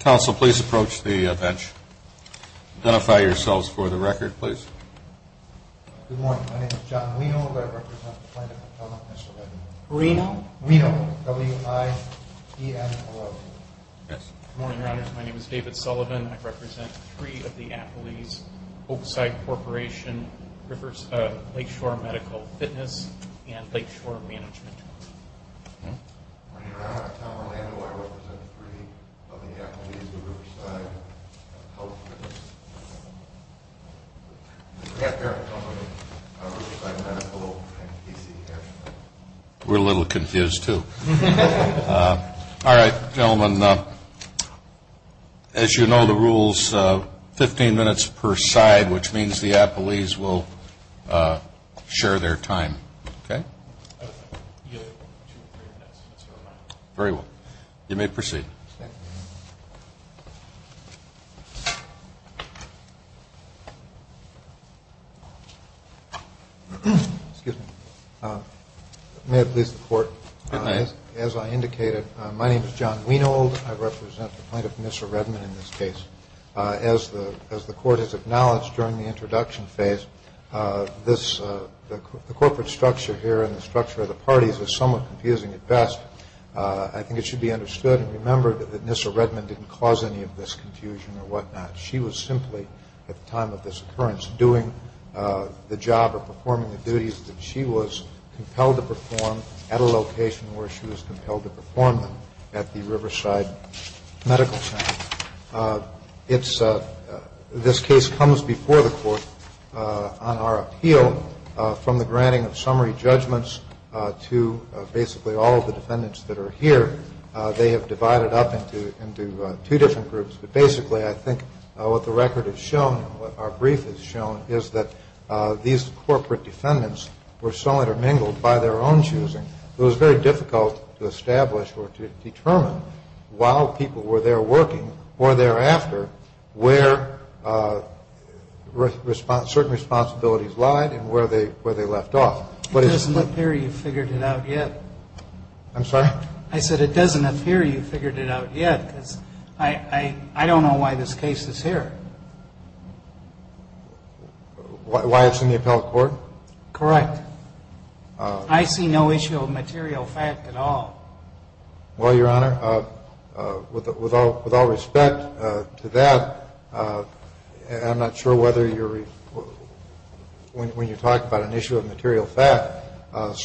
Council, please approach the bench. Identify yourselves for the record, please. Good morning. My name is John Reno, but I represent the Plano Potomac Medical Center. Reno? Reno. W-I-E-N-O-R-O. Good morning, Your Honors. My name is David Sullivan. I represent three of the Appley's, Oakside Corporation, Lakeshore Medical Fitness, and Lakeshore Management. Your Honor, I'm Tom Orlando. I represent three of the Appley's, the Riverside Health Fitness, and the Grand Barrel Company, Riverside Medical, and PCS. We're a little confused, too. All right, gentlemen, as you know the rules, 15 minutes per side, which means the Appley's will share their time. Okay? Very well. You may proceed. Excuse me. May it please the Court, as I indicated, my name is John Wienold. I represent the plaintiff, Mr. Redman, in this case. As the Court has acknowledged during the introduction phase, the corporate structure here and the structure of the parties is somewhat confusing at best. I think it should be understood and remembered that Nyssa Redman didn't cause any of this confusion or whatnot. She was simply, at the time of this occurrence, doing the job of performing the duties that she was compelled to perform at a location where she was compelled to perform them at the Riverside Medical Center. This case comes before the Court on our appeal from the granting of summary judgments to basically all of the defendants that are here. They have divided up into two different groups. But basically, I think what the record has shown, what our brief has shown, is that these corporate defendants were so intermingled by their own choosing, it was very difficult to establish or to determine while people were there working or thereafter, where certain responsibilities lied and where they left off. It doesn't appear you've figured it out yet. I'm sorry? I said it doesn't appear you've figured it out yet, because I don't know why this case is here. Why it's in the appellate court? Correct. I see no issue of material fact at all. Well, Your Honor, with all respect to that, I'm not sure whether you're when you talk about an issue of material fact. I'm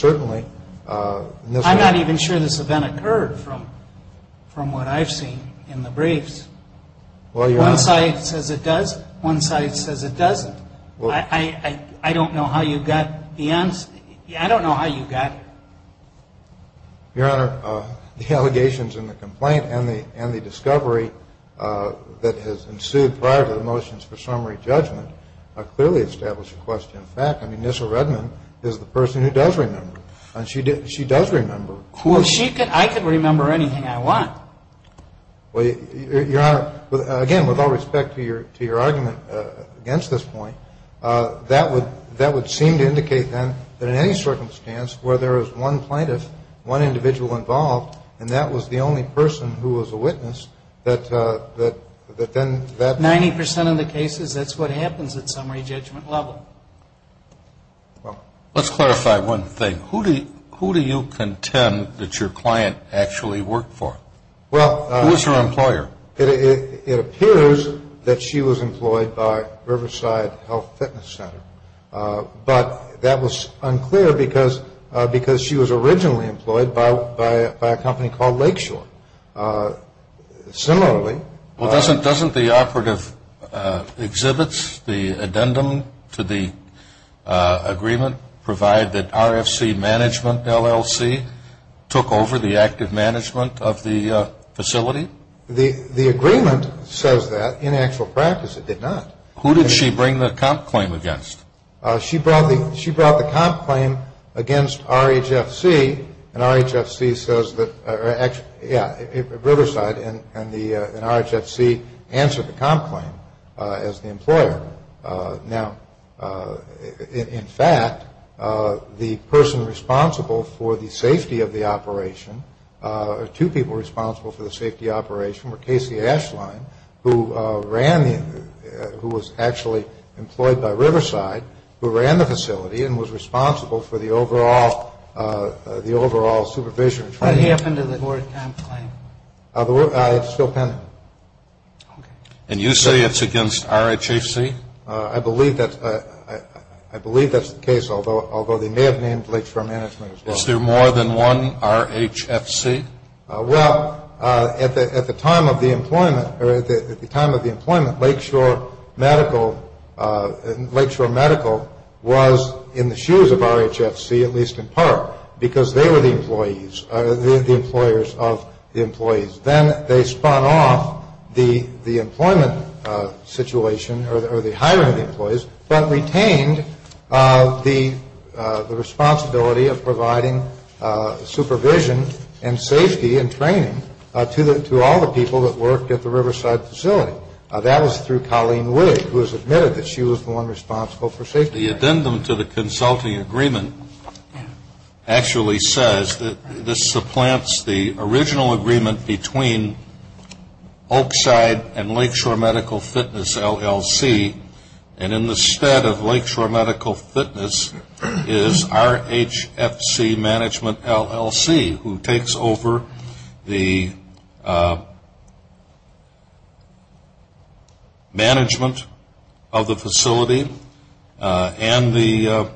not even sure this event occurred from what I've seen in the briefs. One side says it does. One side says it doesn't. I don't know how you got the answer. I don't know how you got it. Your Honor, the allegations in the complaint and the discovery that has ensued prior to the motions for summary judgment clearly establish a question of fact. I mean, Nyssa Redmond is the person who does remember, and she does remember. Well, she could. I could remember anything I want. Well, Your Honor, again, with all respect to your argument against this point, that would seem to indicate, then, that in any circumstance where there is one plaintiff, one individual involved, and that was the only person who was a witness, that then that... Let's clarify one thing. Who do you contend that your client actually worked for? Who was her employer? It appears that she was employed by Riverside Health Fitness Center, but that was unclear because she was originally employed by a company called Lakeshore. Similarly... provide that RFC Management, LLC, took over the active management of the facility? The agreement says that. In actual practice, it did not. Who did she bring the comp claim against? She brought the comp claim against RHFC, and RHFC says that, yeah, Riverside, and RHFC answered the comp claim as the employer. Now, in fact, the person responsible for the safety of the operation, or two people responsible for the safety operation, were Casey Ashline, who was actually employed by Riverside, who ran the facility, and was responsible for the overall supervision. What happened to the board comp claim? It's still pending. And you say it's against RHFC? I believe that's the case, although they may have named Lakeshore Management as well. Is there more than one RHFC? Well, at the time of the employment, Lakeshore Medical was in the shoes of RHFC, at least in part, because they were the employees, the employers of the employees. Then they spun off the employment situation, or the hiring of employees, but retained the responsibility of providing supervision and safety and training to all the people that worked at the Riverside facility. That was through Colleen Wigg, who has admitted that she was the one responsible for safety. The addendum to the consulting agreement actually says that this supplants the original agreement between Oakside and Lakeshore Medical Fitness, LLC, and in the stead of Lakeshore Medical Fitness is RHFC Management, LLC, who takes over the management of the facility and the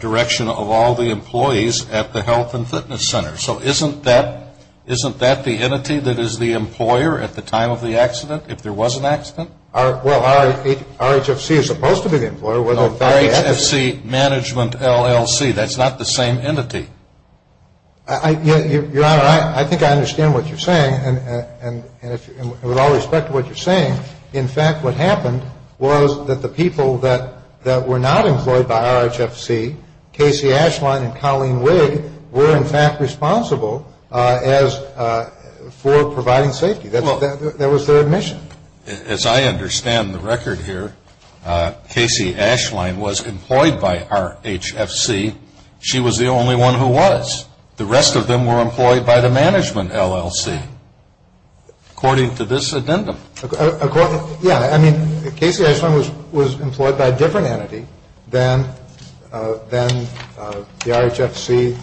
direction of all the employees at the health and fitness center. So isn't that the entity that is the employer at the time of the accident, if there was an accident? Well, RHFC is supposed to be the employer. RHFC Management, LLC, that's not the same entity. Your Honor, I think I understand what you're saying, and with all respect to what you're saying, in fact what happened was that the people that were not employed by RHFC, Casey Ashland and Colleen Wigg, were in fact responsible for providing safety. That was their admission. As I understand the record here, Casey Ashland was employed by RHFC. She was the only one who was. The rest of them were employed by the management, LLC, according to this addendum. Yeah. I mean, Casey Ashland was employed by a different entity than the RHFC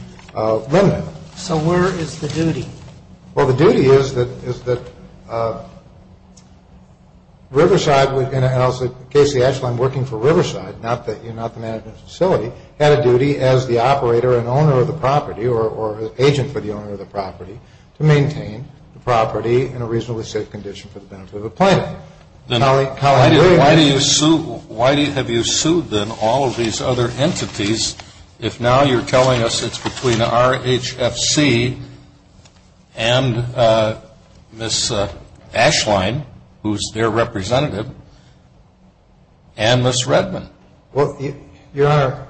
limit. So where is the duty? Well, the duty is that Riverside, Casey Ashland working for Riverside, not the management facility, had a duty as the operator and owner of the property or agent for the owner of the property to maintain the property in a reasonably safe condition for the benefit of the planet. Why have you sued then all of these other entities if now you're telling us it's between RHFC and Ms. Ashland, who's their representative, and Ms. Redman? Well, Your Honor.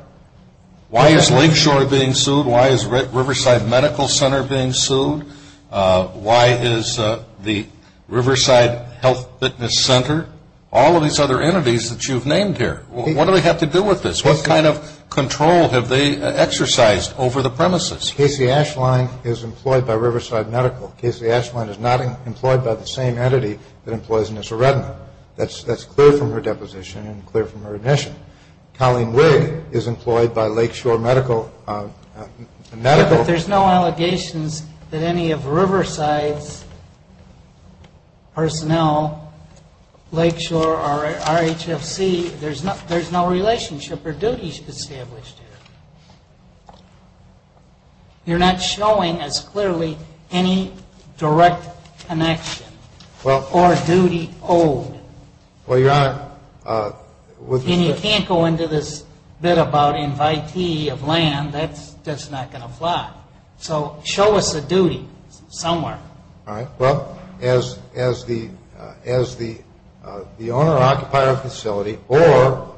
Why is Lakeshore being sued? Why is Riverside Medical Center being sued? Why is the Riverside Health Fitness Center? All of these other entities that you've named here. What do they have to do with this? What kind of control have they exercised over the premises? Casey Ashland is employed by Riverside Medical. Casey Ashland is not employed by the same entity that employs Ms. Redman. That's clear from her deposition and clear from her admission. Colleen Wigg is employed by Lakeshore Medical. But there's no allegations that any of Riverside's personnel, Lakeshore or RHFC, There's no relationship or duties established here. You're not showing us clearly any direct connection or duty owed. Well, Your Honor. And you can't go into this bit about invitee of land. That's just not going to fly. So show us a duty somewhere. All right. Well, as the owner-occupier facility or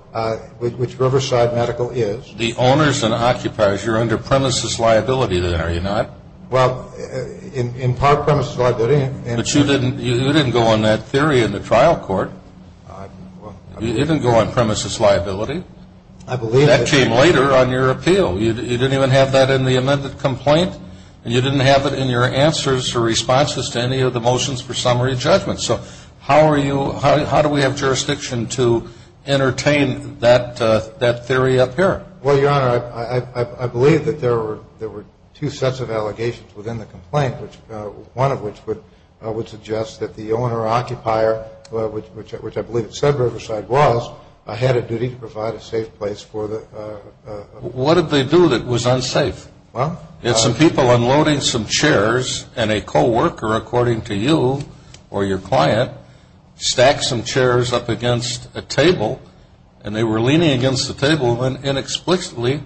which Riverside Medical is. The owners and occupiers, you're under premises liability there, are you not? Well, in part premises liability. But you didn't go on that theory in the trial court. You didn't go on premises liability. That came later on your appeal. You didn't even have that in the amended complaint. And you didn't have it in your answers or responses to any of the motions for summary judgment. So how do we have jurisdiction to entertain that theory up here? Well, Your Honor, I believe that there were two sets of allegations within the complaint, one of which would suggest that the owner-occupier, which I believe said Riverside was, had a duty to provide a safe place for the. What did they do that was unsafe? Well. Had some people unloading some chairs and a co-worker, according to you or your client, stacked some chairs up against a table and they were leaning against the table and inexplicably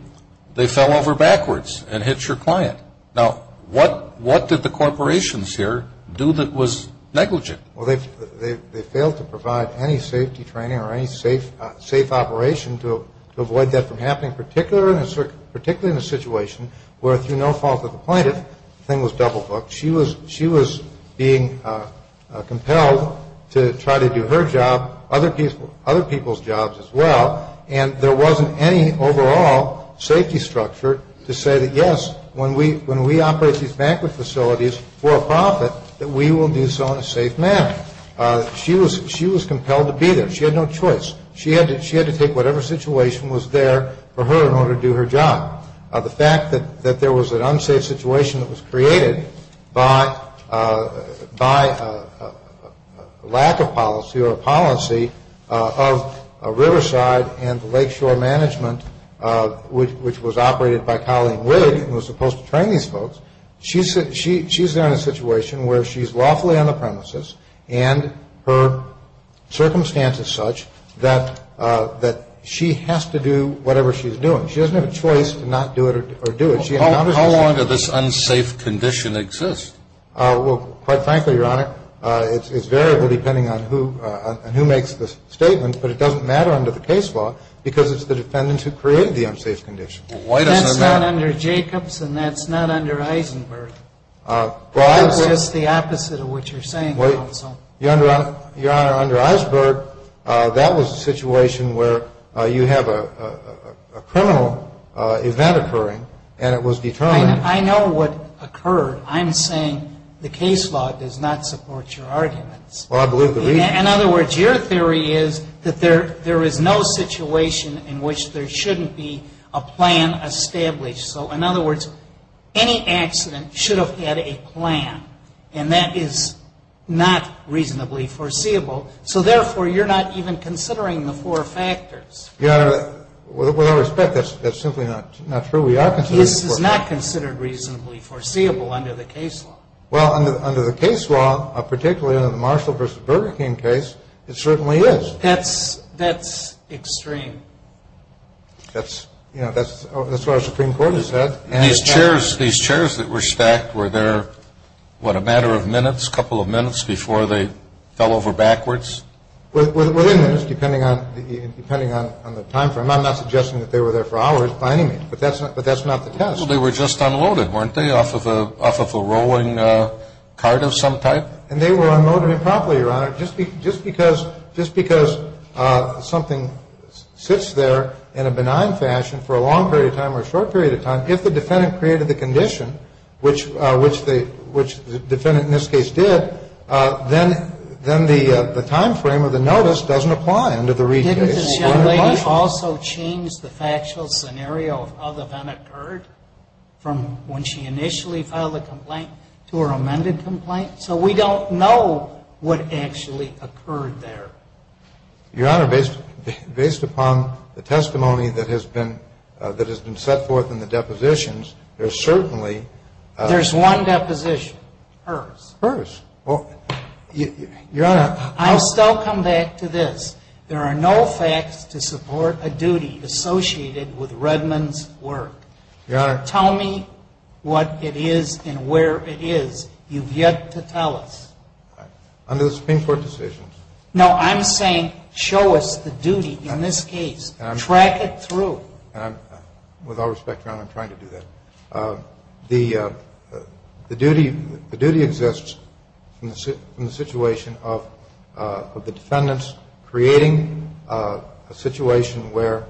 they fell over backwards and hit your client. Now, what did the corporations here do that was negligent? Well, they failed to provide any safety training or any safe operation to avoid that from happening, particularly in a situation where through no fault of the plaintiff, the thing was double-booked, she was being compelled to try to do her job, other people's jobs as well, and there wasn't any overall safety structure to say that, yes, when we operate these banquet facilities for a profit, that we will do so in a safe manner. She was compelled to be there. She had no choice. She had to take whatever situation was there for her in order to do her job. The fact that there was an unsafe situation that was created by a lack of policy or a policy of Riverside and the lakeshore management, which was operated by Colleen Wigg and was supposed to train these folks, she's there in a situation where she's lawfully on the premises and her circumstance is such that she has to do whatever she's doing. She doesn't have a choice to not do it or do it. How long did this unsafe condition exist? Well, quite frankly, Your Honor, it's variable depending on who makes the statement, but it doesn't matter under the case law because it's the defendants who created the unsafe condition. That's not under Jacobs and that's not under Eisenberg. That's just the opposite of what you're saying, counsel. Your Honor, under Eisenberg, that was a situation where you have a criminal event occurring and it was determined. I know what occurred. I'm saying the case law does not support your arguments. Well, I believe the reason. In other words, your theory is that there is no situation in which there shouldn't be a plan established. So, in other words, any accident should have had a plan, and that is not reasonably foreseeable. So, therefore, you're not even considering the four factors. Your Honor, with all respect, that's simply not true. We are considering the four factors. This is not considered reasonably foreseeable under the case law. Well, under the case law, particularly under the Marshall v. Burger King case, it certainly is. That's extreme. That's what our Supreme Court has said. These chairs that were stacked, were there, what, a matter of minutes, a couple of minutes, before they fell over backwards? Within minutes, depending on the time frame. I'm not suggesting that they were there for hours by any means, but that's not the test. Well, they were just unloaded, weren't they, off of a rolling cart of some type? And they were unloaded improperly, Your Honor, just because something sits there in a benign fashion for a long period of time or a short period of time. If the defendant created the condition, which the defendant in this case did, then the time frame of the notice doesn't apply under the Reed case. Didn't this young lady also change the factual scenario of how the event occurred from when she initially filed the complaint to her amended complaint? So we don't know what actually occurred there. Your Honor, based upon the testimony that has been set forth in the depositions, there's certainly – There's one deposition. Hers. Hers. Well, Your Honor – I'll still come back to this. There are no facts to support a duty associated with Redmond's work. Your Honor – Tell me what it is and where it is. You've yet to tell us. Under the Supreme Court decisions – No, I'm saying show us the duty in this case. Track it through. With all respect, Your Honor, I'm trying to do that. The duty exists in the situation of the defendants creating a situation where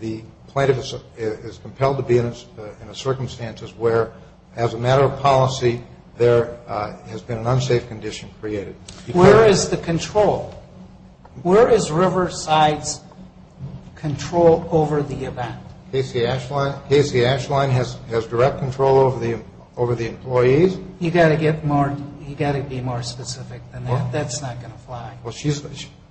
the plaintiff is compelled to be in a circumstance where, as a matter of policy, there has been an unsafe condition created. Where is the control? Where is Riverside's control over the event? Casey Ashline has direct control over the employees. You've got to get more – you've got to be more specific than that. That's not going to fly.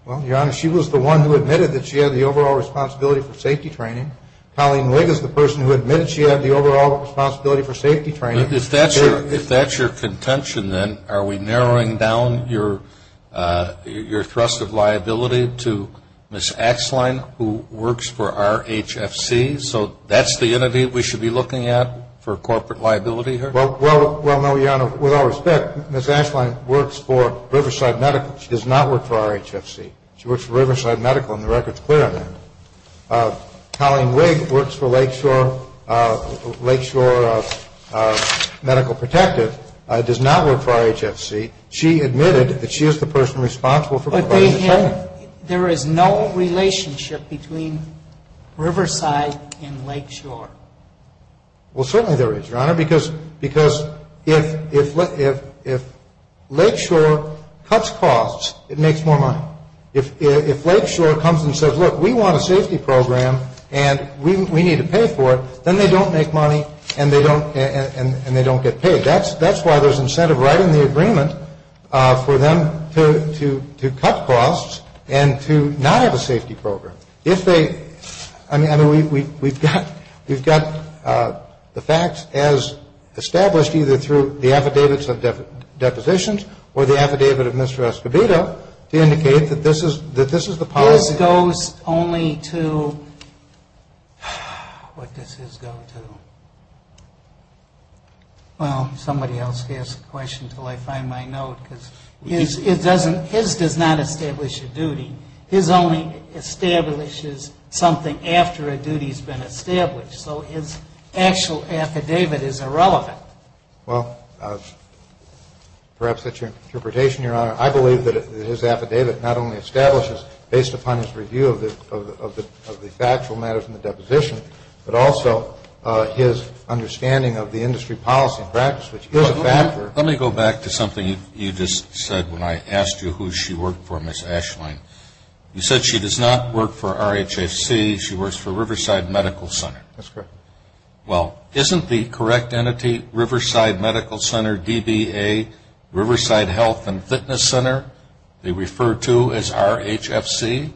Well, Your Honor, she was the one who admitted that she had the overall responsibility for safety training. Colleen Wigg is the person who admitted she had the overall responsibility for safety training. If that's your contention, then, are we narrowing down your thrust of liability to Ms. Ashline, who works for RHFC? So that's the entity we should be looking at for corporate liability here? Well, no, Your Honor. With all respect, Ms. Ashline works for Riverside Medical. She does not work for RHFC. She works for Riverside Medical, and the record's clear on that. Colleen Wigg works for Lakeshore Medical Protective, does not work for RHFC. She admitted that she is the person responsible for corporate training. But there is no relationship between Riverside and Lakeshore. Well, certainly there is, Your Honor, because if Lakeshore cuts costs, it makes more money. If Lakeshore comes and says, look, we want a safety program and we need to pay for it, then they don't make money and they don't get paid. That's why there's incentive right in the agreement for them to cut costs and to not have a safety program. I mean, we've got the facts as established either through the affidavits of depositions or the affidavit of Mr. Escobedo to indicate that this is the policy. His goes only to, what does his go to? Well, somebody else can ask the question until I find my note, because his does not establish a duty. His only establishes something after a duty's been established. So his actual affidavit is irrelevant. Well, perhaps that's your interpretation, Your Honor. I believe that his affidavit not only establishes based upon his review of the factual matters in the deposition, but also his understanding of the industry policy and practice, which is a factor. Let me go back to something you just said when I asked you who she worked for, Ms. Ashline. You said she does not work for RHFC. She works for Riverside Medical Center. That's correct. Well, isn't the correct entity Riverside Medical Center, DBA, Riverside Health and Fitness Center, they refer to as RHFC?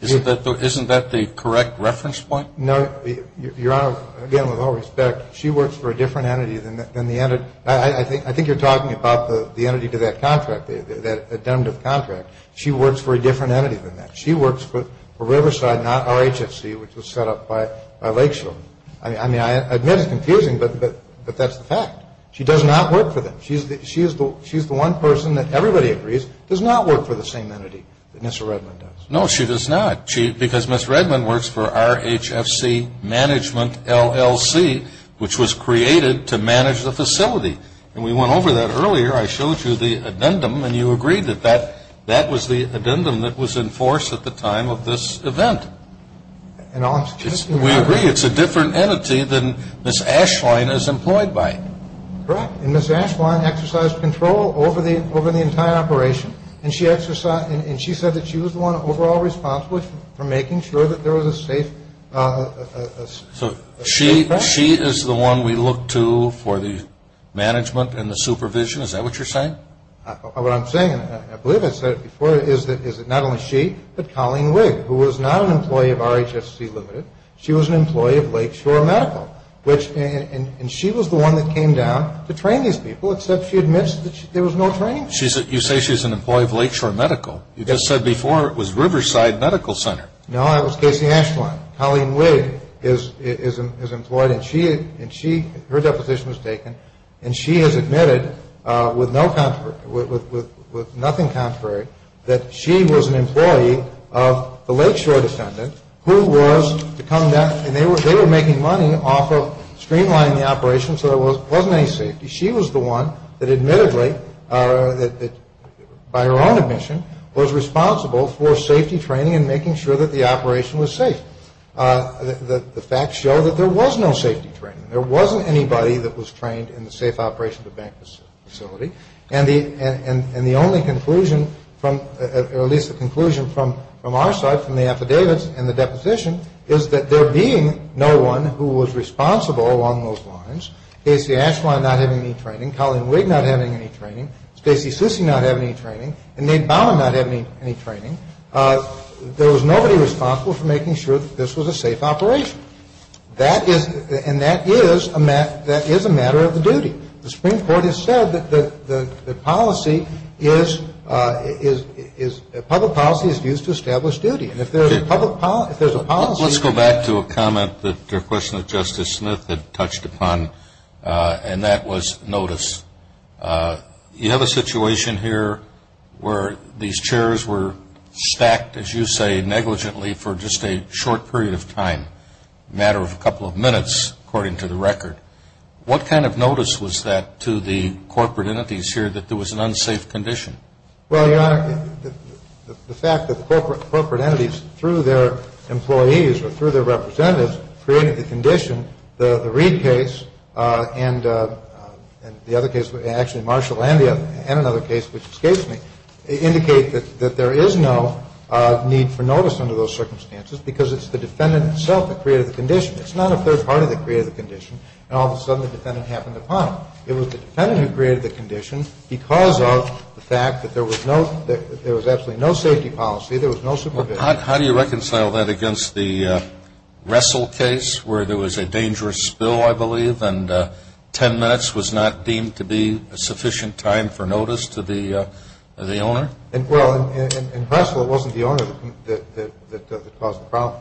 Isn't that the correct reference point? No. Your Honor, again, with all respect, she works for a different entity than the entity. I think you're talking about the entity to that contract, that addendum to the contract. She works for a different entity than that. She works for Riverside, not RHFC, which was set up by Lakeshore. I mean, I admit it's confusing, but that's the fact. She does not work for them. She's the one person that everybody agrees does not work for the same entity that Ms. Redman does. No, she does not, because Ms. Redman works for RHFC Management LLC, which was created to manage the facility. And we went over that earlier. I showed you the addendum, and you agreed that that was the addendum that was in force at the time of this event. We agree it's a different entity than Ms. Ashwine is employed by. Correct. And Ms. Ashwine exercised control over the entire operation, and she said that she was the one overall responsible for making sure that there was a safe contract. So she is the one we look to for the management and the supervision? Is that what you're saying? What I'm saying, and I believe I said it before, is that it's not only she, but Colleen Wigg, who was not an employee of RHFC Limited, she was an employee of Lakeshore Medical. And she was the one that came down to train these people, except she admits that there was no training. You say she's an employee of Lakeshore Medical. You just said before it was Riverside Medical Center. No, that was Casey Ashwine. Colleen Wigg is employed, and her deposition was taken, and she has admitted with nothing contrary that she was an employee of the Lakeshore defendant, who was to come down, and they were making money off of streamlining the operation so there wasn't any safety. She was the one that admittedly, by her own admission, was responsible for safety training and making sure that the operation was safe. The facts show that there was no safety training. There wasn't anybody that was trained in the safe operation of the bank facility. And the only conclusion, or at least the conclusion from our side, from the affidavits and the deposition, is that there being no one who was responsible along those lines, Casey Ashwine not having any training, Colleen Wigg not having any training, Stacy Susi not having any training, and Nate Baumann not having any training, there was nobody responsible for making sure that this was a safe operation. That is, and that is a matter of the duty. The Supreme Court has said that the policy is, public policy is used to establish duty. And if there's a public, if there's a policy. Let's go back to a comment, a question that Justice Smith had touched upon, and that was notice. You have a situation here where these chairs were stacked, as you say, negligently for just a short period of time. A matter of a couple of minutes, according to the record. What kind of notice was that to the corporate entities here that there was an unsafe condition? Well, Your Honor, the fact that the corporate entities, through their employees or through their representatives, created the condition, the Reid case and the other case, actually Marshall and another case, which escapes me, indicate that there is no need for notice under those circumstances because it's the defendant itself that created the condition. It's not a third party that created the condition, and all of a sudden the defendant happened upon it. It was the defendant who created the condition because of the fact that there was no, there was absolutely no safety policy, there was no supervision. How do you reconcile that against the Russell case where there was a dangerous spill, I believe, and 10 minutes was not deemed to be a sufficient time for notice to the owner? Well, in Russell, it wasn't the owner that caused the problem.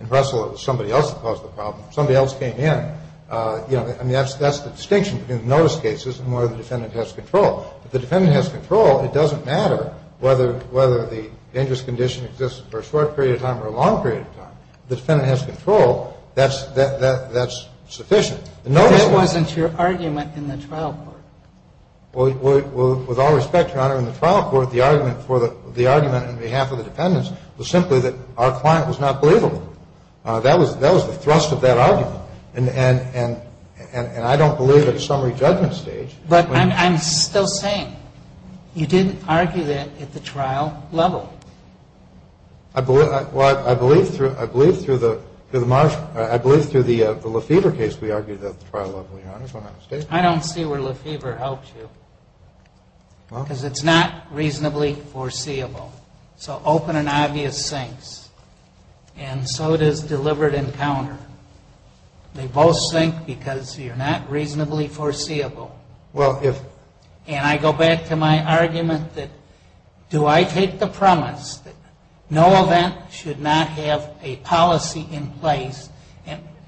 In Russell, it was somebody else that caused the problem. Somebody else came in. I mean, that's the distinction between the notice cases and where the defendant has control. If the defendant has control, it doesn't matter whether the dangerous condition exists for a short period of time or a long period of time. If the defendant has control, that's sufficient. But that wasn't your argument in the trial court. Well, with all respect, Your Honor, in the trial court, the argument for the, the argument on behalf of the defendants was simply that our client was not believable. That was, that was the thrust of that argument. And I don't believe at a summary judgment stage. But I'm still saying, you didn't argue that at the trial level. I believe, well, I believe through, I believe through the Marshall, I believe through the Lefebvre case we argued at the trial level, Your Honor. If I'm not mistaken. I don't see where Lefebvre helped you. Well. Because it's not reasonably foreseeable. So open and obvious sinks. And so does deliberate encounter. They both sink because you're not reasonably foreseeable. Well, if. And I go back to my argument that do I take the premise that no event should not have a policy in place.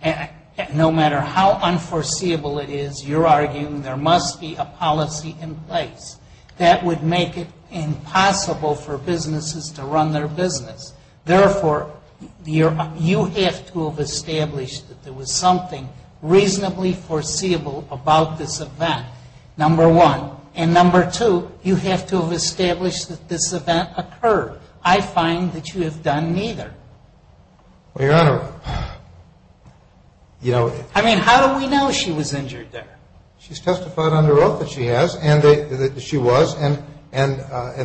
And no matter how unforeseeable it is, you're arguing there must be a policy in place. That would make it impossible for businesses to run their business. Therefore, you have to have established that there was something reasonably foreseeable about this event. Number one. And number two, you have to have established that this event occurred. I find that you have done neither. Well, Your Honor. I mean, how do we know she was injured there? She's testified under oath that she has and that she was. And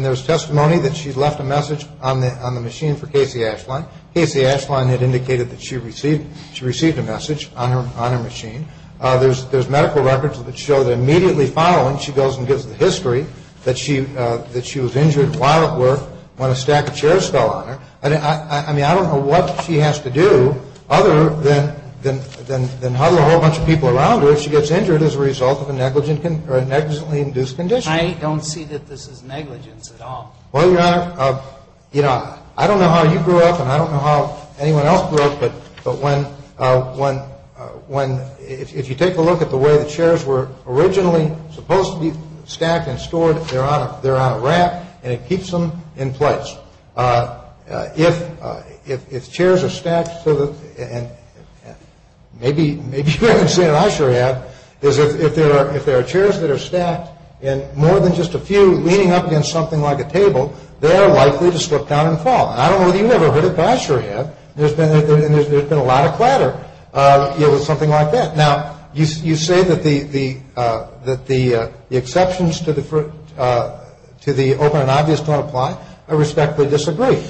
there's testimony that she left a message on the machine for Casey Ashline. Casey Ashline had indicated that she received a message on her machine. There's medical records that show that immediately following she goes and gives the history that she was injured while at work when a stack of chairs fell on her. I mean, I don't know what she has to do other than huddle a whole bunch of people around her if she gets injured as a result of a negligently induced condition. I don't see that this is negligence at all. Well, Your Honor, you know, I don't know how you grew up and I don't know how anyone else grew up, but if you take a look at the way the chairs were originally supposed to be stacked and stored, they're on a rack and it keeps them in place. If chairs are stacked to the, and maybe you haven't seen it, I sure have, is if there are chairs that are stacked and more than just a few leaning up against something like a table, they're likely to slip down and fall. I don't know whether you've ever heard it, but I sure have. There's been a lot of clatter with something like that. Now, you say that the exceptions to the open and obvious don't apply. I respectfully disagree.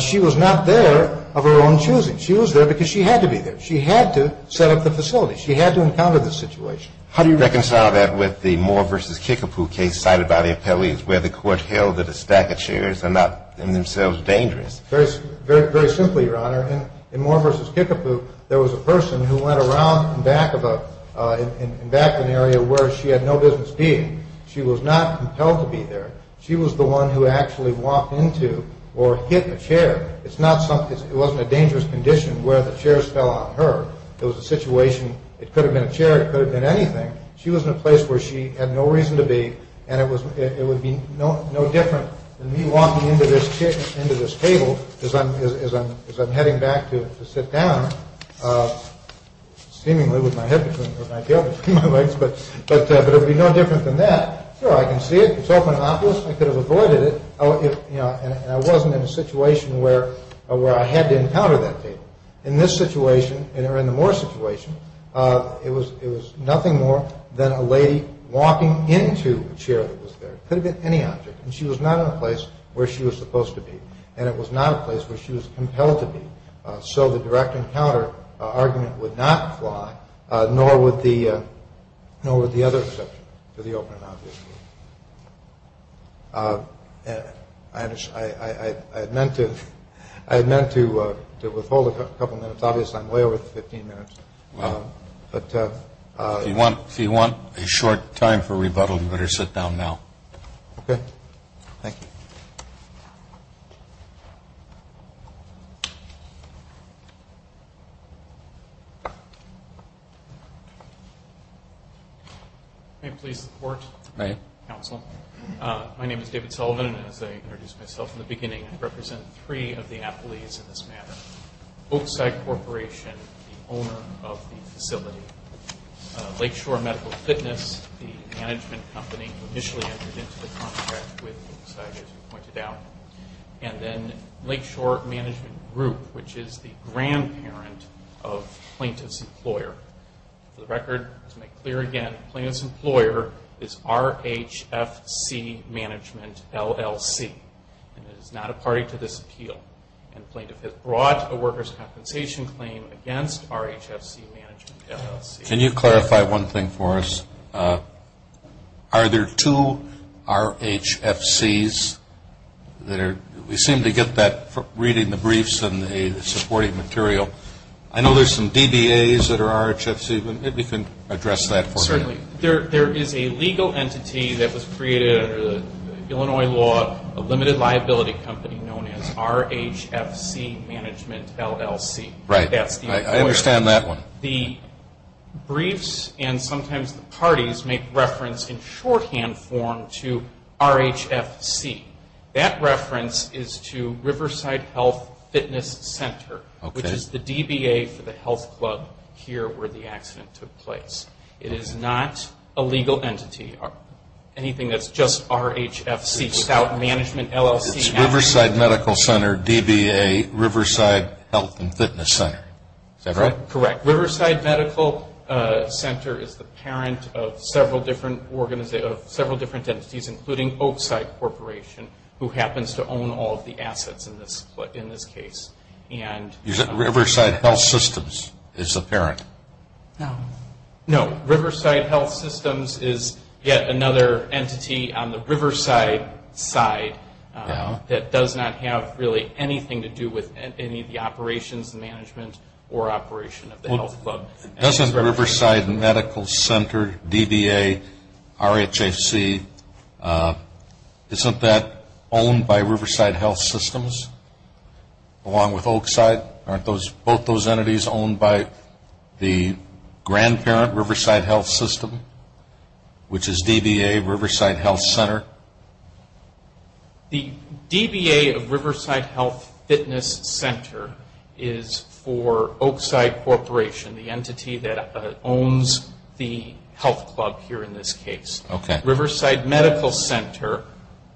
She was not there of her own choosing. She was there because she had to be there. She had to set up the facility. She had to encounter the situation. How do you reconcile that with the Moore v. Kickapoo case cited by the appellees where the court held that a stack of chairs are not in themselves dangerous? Very simply, Your Honor. In Moore v. Kickapoo, there was a person who went around in back of an area where she had no business being. She was not compelled to be there. She was the one who actually walked into or hit a chair. It wasn't a dangerous condition where the chairs fell on her. It was a situation. It could have been a chair. It could have been anything. She was in a place where she had no reason to be, and it would be no different than me walking into this table as I'm heading back to sit down, seemingly with my head between my legs. But it would be no different than that. Sure, I can see it. It's open and obvious. I could have avoided it, and I wasn't in a situation where I had to encounter that table. In this situation, or in the Moore situation, it was nothing more than a lady walking into a chair that was there. It could have been any object, and she was not in a place where she was supposed to be, and it was not a place where she was compelled to be. So the direct encounter argument would not apply, nor would the other exception to the open and obvious rule. I had meant to withhold a couple minutes. Obviously, I'm way over the 15 minutes. If you want a short time for rebuttal, you better sit down now. Okay. Thank you. May I please support? You may. Counsel. My name is David Sullivan, and as I introduced myself in the beginning, I represent three of the appellees in this matter. Oakside Corporation, the owner of the facility, Lakeshore Medical Fitness, the management company who initially entered into the contract with Oakside, as you pointed out, and then Lakeshore Management Group, which is the grandparent of Plaintiff's Employer. For the record, to make clear again, Plaintiff's Employer is RHFC Management, LLC, and it is not a party to this appeal. And Plaintiff has brought a workers' compensation claim against RHFC Management, LLC. Can you clarify one thing for us? Are there two RHFCs? We seem to get that reading the briefs and the supporting material. I know there's some DBAs that are RHFC, but maybe you can address that for me. Certainly. There is a legal entity that was created under the Illinois law, a limited liability company known as RHFC Management, LLC. Right. I understand that one. The briefs and sometimes the parties make reference in shorthand form to RHFC. That reference is to Riverside Health Fitness Center, which is the DBA for the health club here where the accident took place. It is not a legal entity, anything that's just RHFC without management, LLC. It's Riverside Medical Center, DBA, Riverside Health and Fitness Center. Is that right? Correct. Riverside Medical Center is the parent of several different entities, including Oakside Corporation, who happens to own all of the assets in this case. Is it Riverside Health Systems is the parent? No. No, Riverside Health Systems is yet another entity on the Riverside side that does not have really anything to do with any of the operations, management or operation of the health club. Doesn't Riverside Medical Center, DBA, RHFC, isn't that owned by Riverside Health Systems along with Oakside? Aren't both those entities owned by the grandparent, Riverside Health System, which is DBA, Riverside Health Center? The DBA of Riverside Health Fitness Center is for Oakside Corporation, the entity that owns the health club here in this case. Okay. Riverside Medical Center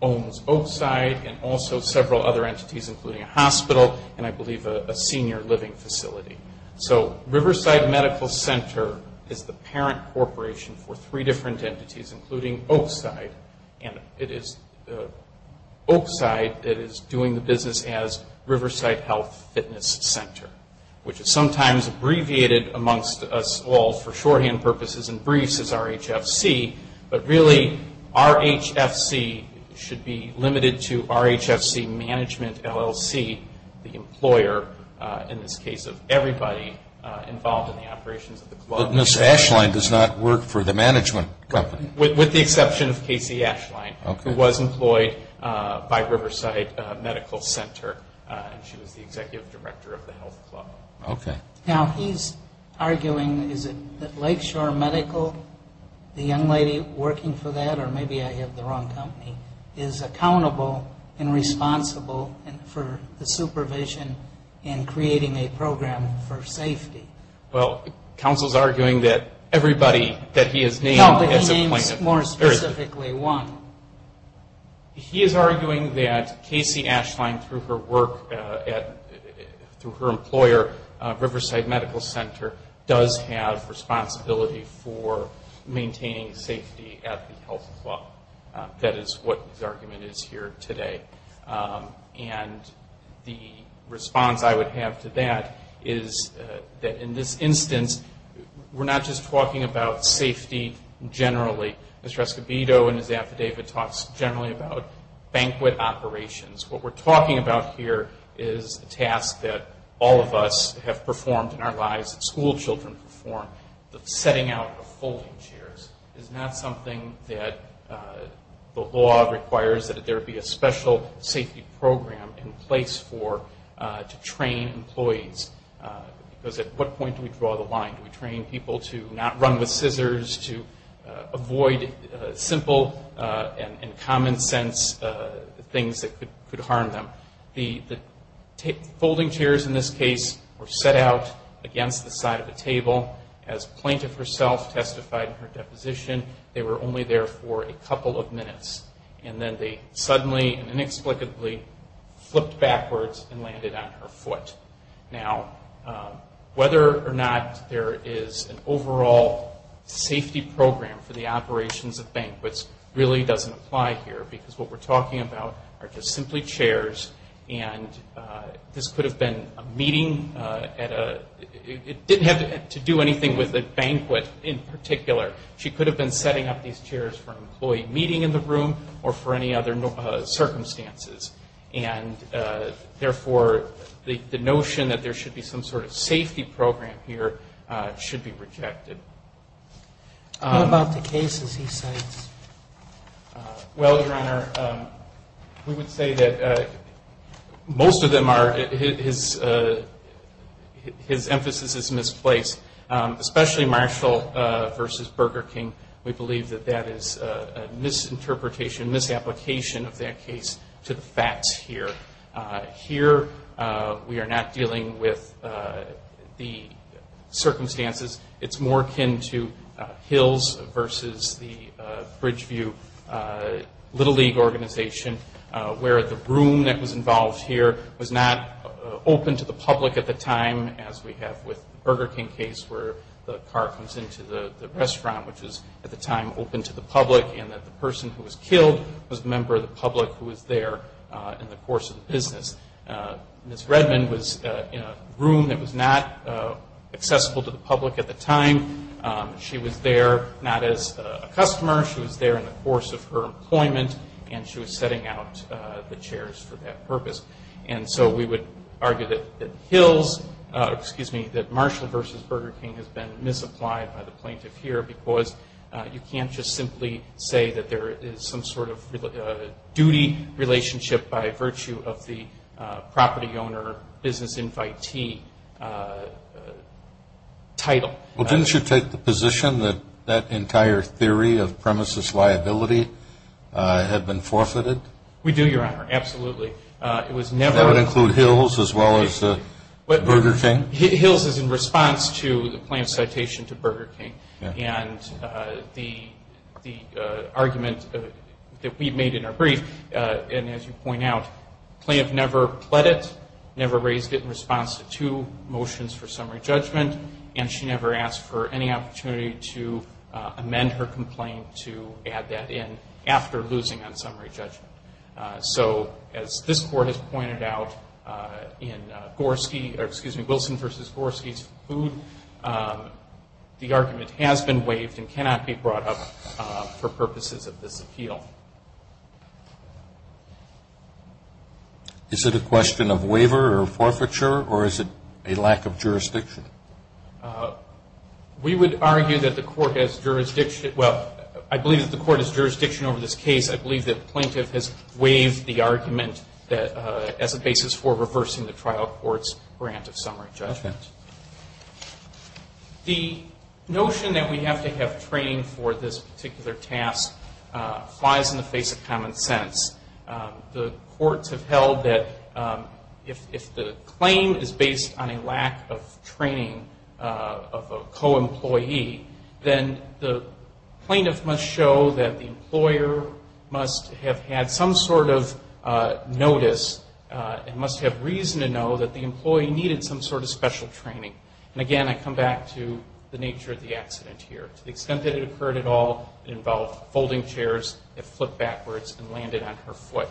owns Oakside and also several other entities including a hospital and I believe a senior living facility. So Riverside Medical Center is the parent corporation for three different entities, including Oakside, and it is Oakside that is doing the business as Riverside Health Fitness Center, which is sometimes abbreviated amongst us all for shorthand purposes and briefs as RHFC, but really RHFC should be limited to RHFC Management LLC, the employer, in this case of everybody involved in the operations of the club. Ms. Ashline does not work for the management company? With the exception of Casey Ashline, who was employed by Riverside Medical Center and she was the executive director of the health club. Okay. Now he's arguing, is it Lakeshore Medical, the young lady working for that, or maybe I have the wrong company, is accountable and responsible for the supervision in creating a program for safety? Well, counsel is arguing that everybody that he has named is a plaintiff. No, but he names more specifically one. He is arguing that Casey Ashline, through her work, through her employer, Riverside Medical Center, does have responsibility for maintaining safety at the health club. That is what his argument is here today. And the response I would have to that is that in this instance, we're not just talking about safety generally. Mr. Escobedo in his affidavit talks generally about banquet operations. What we're talking about here is a task that all of us have performed in our lives, school children perform, the setting out of folding chairs. is not something that the law requires that there be a special safety program in place for to train employees. Because at what point do we draw the line? Do we train people to not run with scissors, to avoid simple and common sense things that could harm them? The folding chairs in this case were set out against the side of the table. As plaintiff herself testified in her deposition, they were only there for a couple of minutes. And then they suddenly and inexplicably flipped backwards and landed on her foot. Now, whether or not there is an overall safety program for the operations of banquets really doesn't apply here. Because what we're talking about are just simply chairs. And this could have been a meeting at a ñ it didn't have to do anything with a banquet in particular. She could have been setting up these chairs for an employee meeting in the room or for any other circumstances. And, therefore, the notion that there should be some sort of safety program here should be rejected. What about the cases he cites? Well, Your Honor, we would say that most of them are ñ his emphasis is misplaced. Especially Marshall v. Burger King, we believe that that is a misinterpretation, misapplication of that case to the facts here. Here we are not dealing with the circumstances. It's more akin to Hills v. the Bridgeview Little League organization, where the room that was involved here was not open to the public at the time, as we have with the Burger King case where the car comes into the restaurant, which was at the time open to the public, and that the person who was killed was a member of the public who was there in the course of the business. Ms. Redman was in a room that was not accessible to the public at the time. She was there not as a customer. She was there in the course of her employment, and she was setting out the chairs for that purpose. And so we would argue that Marshall v. Burger King has been misapplied by the plaintiff here because you can't just simply say that there is some sort of duty relationship by virtue of the property owner business invitee title. Well, didn't you take the position that that entire theory of premises liability had been forfeited? We do, Your Honor, absolutely. That would include Hills as well as Burger King? Hills is in response to the plaintiff's citation to Burger King, and the argument that we made in our brief, and as you point out, the plaintiff never pled it, never raised it in response to motions for summary judgment, and she never asked for any opportunity to amend her complaint to add that in after losing on summary judgment. So as this Court has pointed out in Wilson v. Gorski's food, the argument has been waived and cannot be brought up for purposes of this appeal. Is it a question of waiver or forfeiture, or is it a lack of jurisdiction? We would argue that the Court has jurisdiction. Well, I believe that the Court has jurisdiction over this case. I believe that the plaintiff has waived the argument as a basis for reversing the trial court's grant of summary judgment. The notion that we have to have training for this particular task flies in the face of common sense. The courts have held that if the claim is based on a lack of training of a co-employee, then the plaintiff must show that the employer must have had some sort of notice and must have reason to know that the employee needed some sort of special training. And again, I come back to the nature of the accident here. To the extent that it occurred at all, it involved folding chairs that flipped backwards and landed on her foot.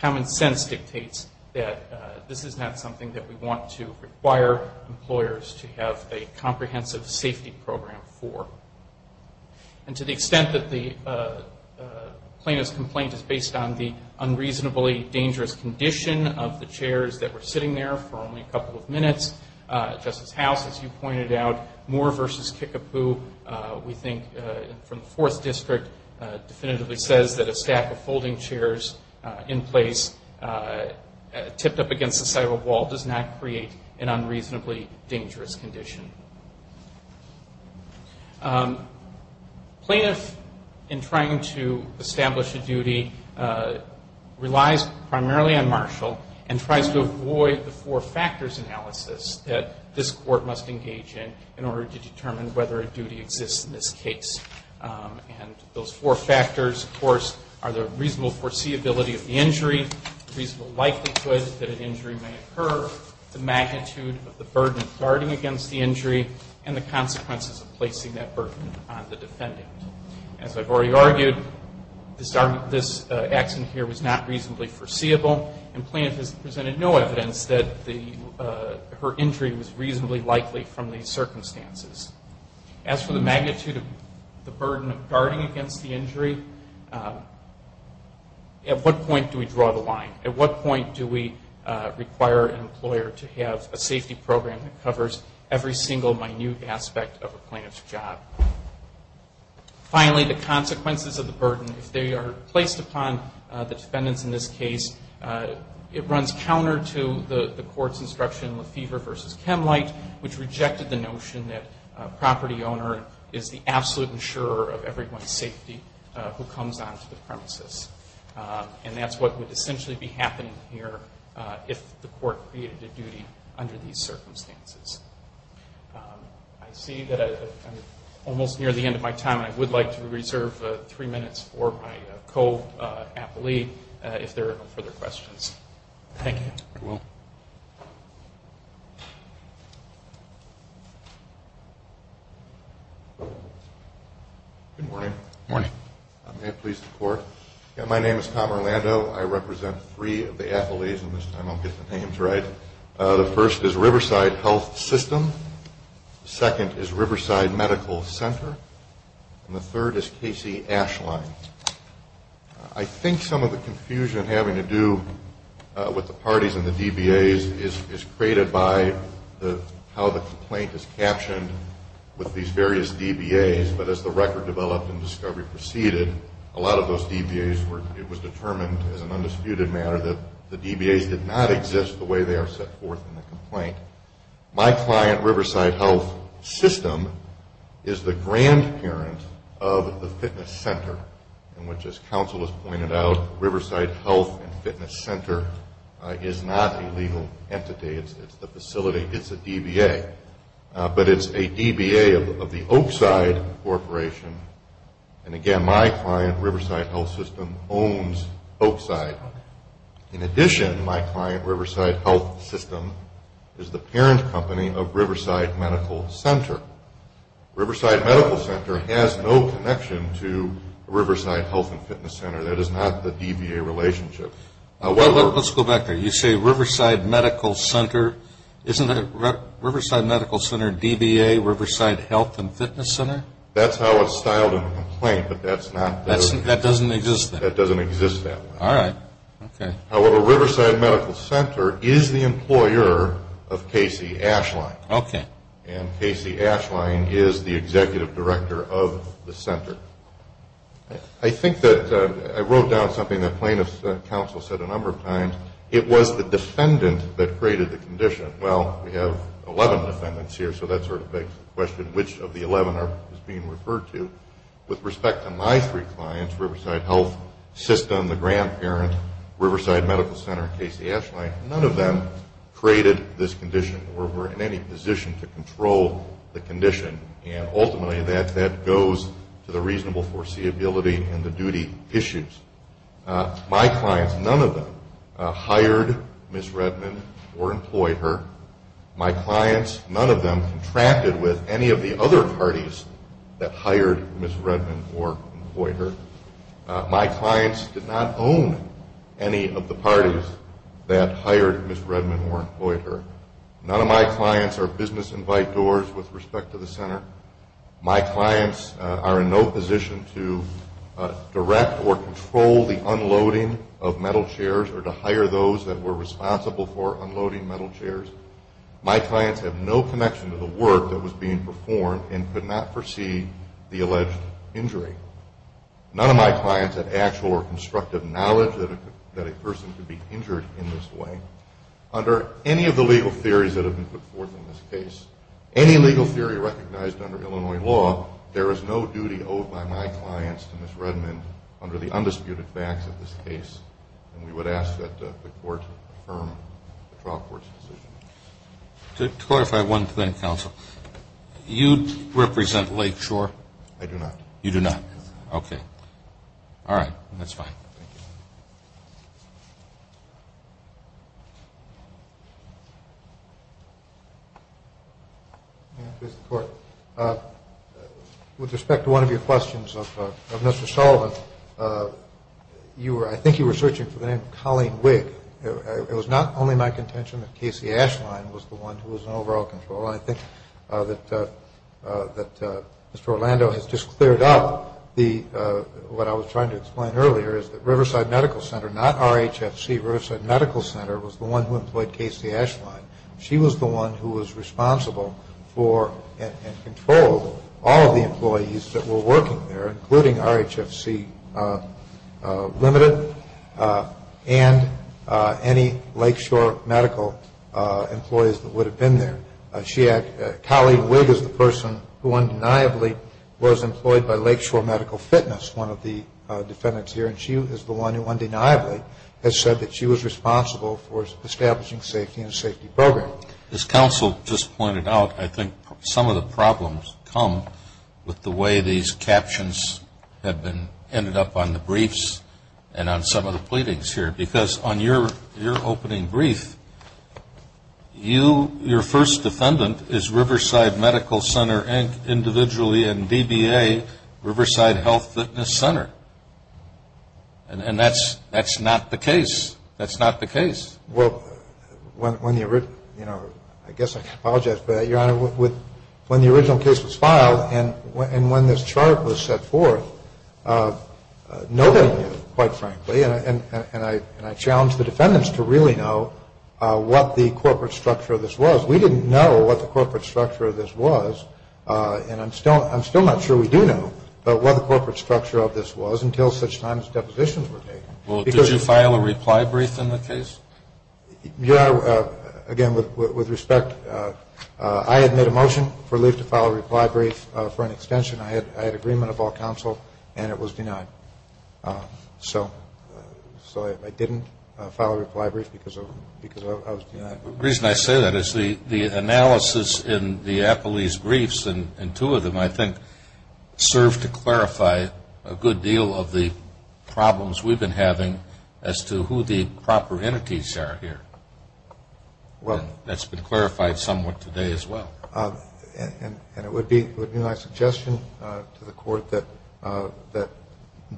Common sense dictates that this is not something that we want to require employers to have a comprehensive safety program for. And to the extent that the plaintiff's complaint is based on the unreasonably dangerous condition of the chairs that were sitting there for only a couple of minutes, Justice House, as you pointed out, Moore v. Kickapoo, we think, from the Fourth District, definitively says that a stack of folding chairs in place, tipped up against the side of a wall, does not create an unreasonably dangerous condition. Plaintiff, in trying to establish a duty, relies primarily on Marshall and tries to avoid the four factors analysis that this court must engage in in order to determine whether a duty exists in this case. And those four factors, of course, are the reasonable foreseeability of the injury, the reasonable likelihood that an injury may occur, the magnitude of the burden of guarding against the injury, and the consequences of placing that burden on the defendant. As I've already argued, this accident here was not reasonably foreseeable, and plaintiff has presented no evidence that her injury was reasonably likely from these circumstances. As for the magnitude of the burden of guarding against the injury, at what point do we draw the line? At what point do we require an employer to have a safety program that covers every single minute aspect of a plaintiff's job? Finally, the consequences of the burden, if they are placed upon the defendants in this case, it runs counter to the court's instruction with Fever v. Chemlight, which rejected the notion that a property owner is the absolute insurer of everyone's safety who comes onto the premises. And that's what would essentially be happening here if the court created a duty under these circumstances. I see that I'm almost near the end of my time, and I would like to reserve three minutes for my co-appellee if there are no further questions. Thank you. Very well. Good morning. Morning. May it please the Court. My name is Tom Orlando. I represent three of the athletes, and this time I'll get the names right. The first is Riverside Health System. The second is Riverside Medical Center. And the third is Casey Ashline. I think some of the confusion having to do with the parties and the DBAs is created by how the complaint is captioned with these various DBAs. But as the record developed and discovery proceeded, a lot of those DBAs were determined as an undisputed matter that the DBAs did not exist the way they are set forth in the complaint. My client, Riverside Health System, is the grandparent of the fitness center, in which, as counsel has pointed out, Riverside Health and Fitness Center is not a legal entity. It's the facility. It's a DBA. But it's a DBA of the Oakside Corporation. And, again, my client, Riverside Health System, owns Oakside. In addition, my client, Riverside Health System, is the parent company of Riverside Medical Center. Riverside Medical Center has no connection to Riverside Health and Fitness Center. That is not the DBA relationship. Let's go back there. You say Riverside Medical Center. Isn't it Riverside Medical Center, DBA, Riverside Health and Fitness Center? That's how it's styled in the complaint, but that doesn't exist that way. All right. Okay. However, Riverside Medical Center is the employer of Casey Ashline. Okay. And Casey Ashline is the executive director of the center. I think that I wrote down something that plaintiff's counsel said a number of times. It was the defendant that created the condition. Well, we have 11 defendants here, so that sort of begs the question, which of the 11 are being referred to? With respect to my three clients, Riverside Health System, the grandparent, Riverside Medical Center, and Casey Ashline, none of them created this condition or were in any position to control the condition, and ultimately that goes to the reasonable foreseeability and the duty issues. My clients, none of them hired Ms. Redman or employed her. My clients, none of them contracted with any of the other parties that hired Ms. Redman or employed her. My clients did not own any of the parties that hired Ms. Redman or employed her. None of my clients are business invite doors with respect to the center. My clients are in no position to direct or control the unloading of metal chairs or to hire those that were responsible for unloading metal chairs. My clients have no connection to the work that was being performed and could not foresee the alleged injury. None of my clients have actual or constructive knowledge that a person could be injured in this way. Under any of the legal theories that have been put forth in this case, any legal theory recognized under Illinois law, there is no duty owed by my clients to Ms. Redman under the undisputed facts of this case, and we would ask that the court affirm the trial court's decision. To clarify one thing, counsel, you represent Lakeshore? I do not. You do not. Okay. All right. That's fine. Thank you. Mr. Court, with respect to one of your questions of Mr. Sullivan, I think you were searching for the name Colleen Wigg. It was not only my contention that Casey Ashline was the one who was in overall control. I think that Mr. Orlando has just cleared up what I was trying to explain earlier, is that Riverside Medical Center, not RHFC, Riverside Medical Center, was the one who employed Casey Ashline. She was the one who was responsible for and controlled all of the employees that were working there, including RHFC Limited and any Lakeshore medical employees that would have been there. Colleen Wigg is the person who undeniably was employed by Lakeshore Medical Fitness, one of the defendants here, and she is the one who undeniably has said that she was responsible for establishing safety and a safety program. As counsel just pointed out, I think some of the problems come with the way these captions have been ended up on the briefs and on some of the pleadings here because on your opening brief, your first defendant is Riverside Medical Center and individually in BBA, Riverside Health Fitness Center, and that's not the case. That's not the case. Well, I guess I can apologize for that, Your Honor. When the original case was filed and when this chart was set forth, nobody knew, quite frankly, and I challenged the defendants to really know what the corporate structure of this was. We didn't know what the corporate structure of this was, and I'm still not sure we do know, but what the corporate structure of this was until such time as depositions were taken. Well, did you file a reply brief in the case? Your Honor, again, with respect, I had made a motion for Lief to file a reply brief for an extension. I had agreement of all counsel, and it was denied. So I didn't file a reply brief because I was denied. The reason I say that is the analysis in the appellee's briefs and two of them, I think, serve to clarify a good deal of the problems we've been having as to who the proper entities are here. That's been clarified somewhat today as well. And it would be my suggestion to the Court that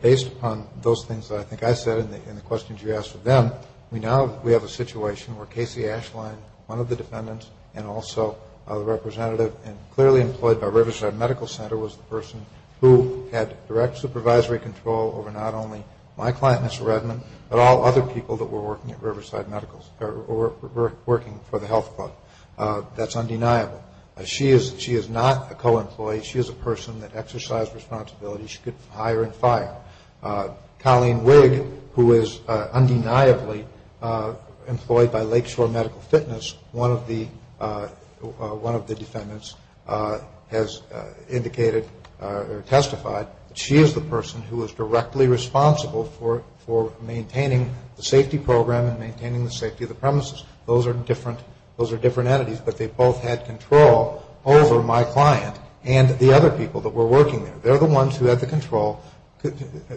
based upon those things that I think I said and the questions you asked of them, we now have a situation where Casey Ashline, one of the defendants and also the representative and clearly employed by Riverside Medical Center, was the person who had direct supervisory control over not only my client, Mr. Redman, but all other people that were working for the health club. That's undeniable. She is not a co-employee. She is a person that exercised responsibility. She could hire and fire. Colleen Wigg, who is undeniably employed by Lakeshore Medical Fitness, one of the defendants has indicated or testified that she is the person who is directly responsible for maintaining the safety program and maintaining the safety of the premises. Those are different entities, but they both had control over my client and the other people that were working there. They're the ones who had the control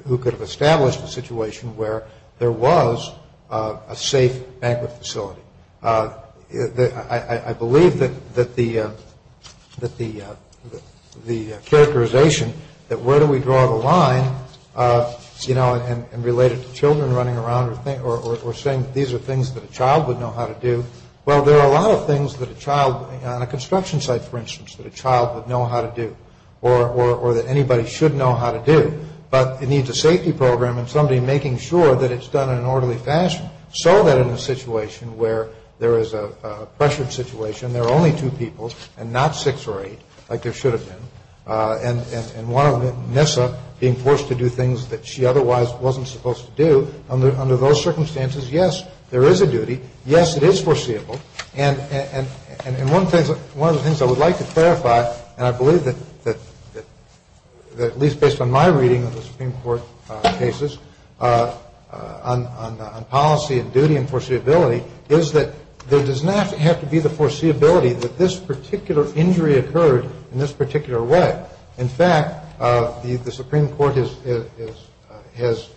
who could have established a situation where there was a safe banquet facility. I believe that the characterization that where do we draw the line, you know, and related to children running around or saying these are things that a child would know how to do, well, there are a lot of things that a child on a construction site, for instance, that a child would know how to do or that anybody should know how to do, but it needs a safety program and somebody making sure that it's done in an orderly fashion so that in a situation where there is a pressured situation, there are only two people and not six or eight like there should have been, and one of them, Nyssa, being forced to do things that she otherwise wasn't supposed to do, under those circumstances, yes, there is a duty. Yes, it is foreseeable. And one of the things I would like to clarify, and I believe that at least based on my reading of the Supreme Court cases on policy and duty and foreseeability is that there does not have to be the foreseeability that this particular injury occurred in this particular way. In fact, the Supreme Court has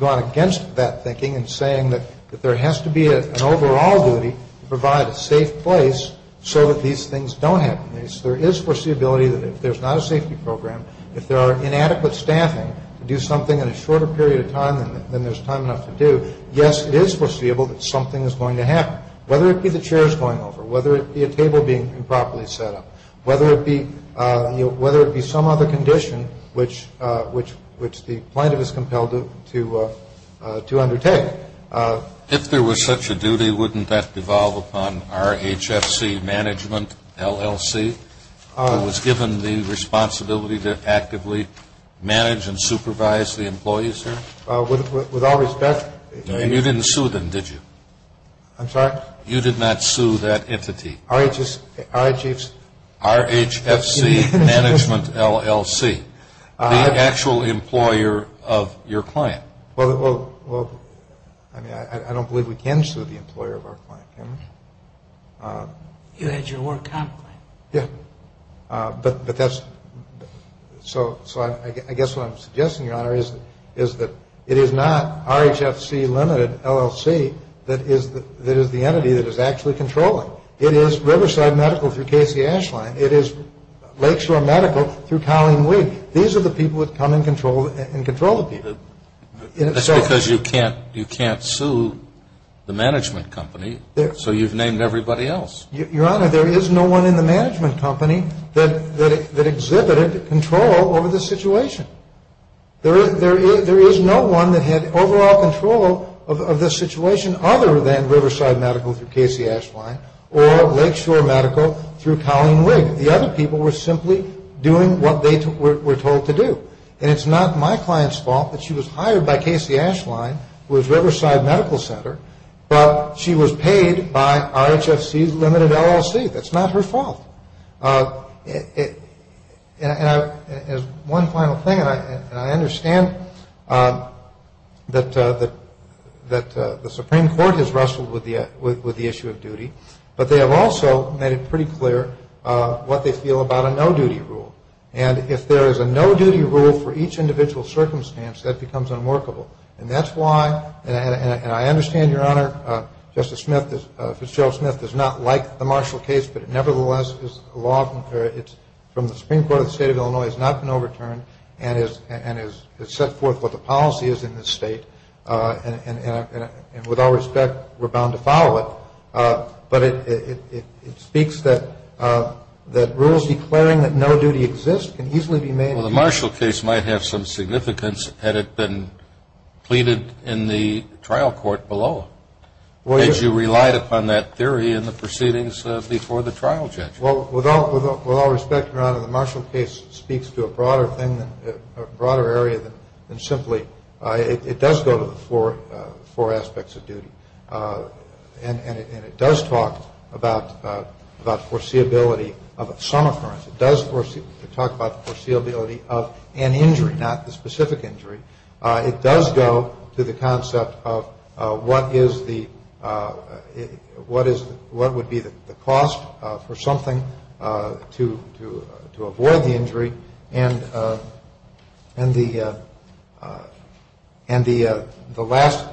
gone against that thinking and saying that there has to be an overall duty to provide a safe place so that these things don't happen. There is foreseeability that if there's not a safety program, if there are inadequate staffing to do something in a shorter period of time than there's time enough to do, yes, it is foreseeable that something is going to happen, whether it be the chairs going over, whether it be a table being improperly set up, whether it be some other condition which the plaintiff is compelled to undertake. If there was such a duty, wouldn't that devolve upon RHFC management, LLC, who was given the responsibility to actively manage and supervise the employees here? With all respect, And you didn't sue them, did you? I'm sorry? You did not sue that entity? RHFC. RHFC. RHFC Management, LLC. The actual employer of your client. Well, I mean, I don't believe we can sue the employer of our client, can we? You had your work out. Yeah. But that's, so I guess what I'm suggesting, Your Honor, is that it is not RHFC Limited, LLC that is the entity that is actually controlling. It is Riverside Medical through Casey Ashline. It is Lakeshore Medical through Colleen Wigg. These are the people that come and control the people. That's because you can't sue the management company, so you've named everybody else. Your Honor, there is no one in the management company that exhibited control over the situation. There is no one that had overall control of the situation other than Riverside Medical through Casey Ashline or Lakeshore Medical through Colleen Wigg. The other people were simply doing what they were told to do. And it's not my client's fault that she was hired by Casey Ashline, who was Riverside Medical Center, but she was paid by RHFC Limited, LLC. That's not her fault. And one final thing, and I understand that the Supreme Court has wrestled with the issue of duty, but they have also made it pretty clear what they feel about a no-duty rule. And if there is a no-duty rule for each individual circumstance, that becomes unworkable. And that's why, and I understand, Your Honor, Justice Smith, Fitzgerald Smith, does not like the Marshall case, but it nevertheless is a law from the Supreme Court of the State of Illinois. It has not been overturned and has set forth what the policy is in this state. And with all respect, we're bound to follow it. But it speaks that rules declaring that no duty exists can easily be made. Well, the Marshall case might have some significance had it been pleaded in the trial court below. Had you relied upon that theory in the proceedings before the trial judge? Well, with all respect, Your Honor, the Marshall case speaks to a broader thing, a broader area than simply it does go to the four aspects of duty. And it does talk about foreseeability of some occurrence. It does talk about the foreseeability of an injury, not the specific injury. It does go to the concept of what is the, what is, what would be the cost for something to avoid the injury, and the last,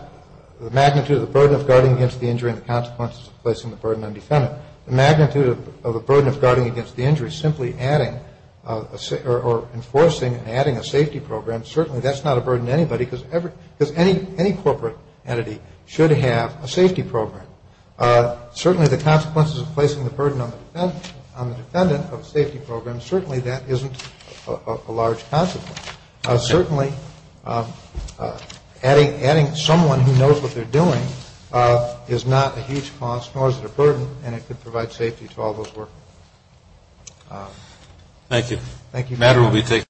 the magnitude of the burden of guarding against the injury and the consequences of placing the burden on the defendant. The magnitude of the burden of guarding against the injury simply adding, or enforcing, adding a safety program, certainly that's not a burden to anybody, because any corporate entity should have a safety program. Certainly the consequences of placing the burden on the defendant of a safety program, certainly that isn't a large consequence. Certainly adding someone who knows what they're doing is not a huge cost, nor is it a burden, and it could provide safety to all those working. Thank you.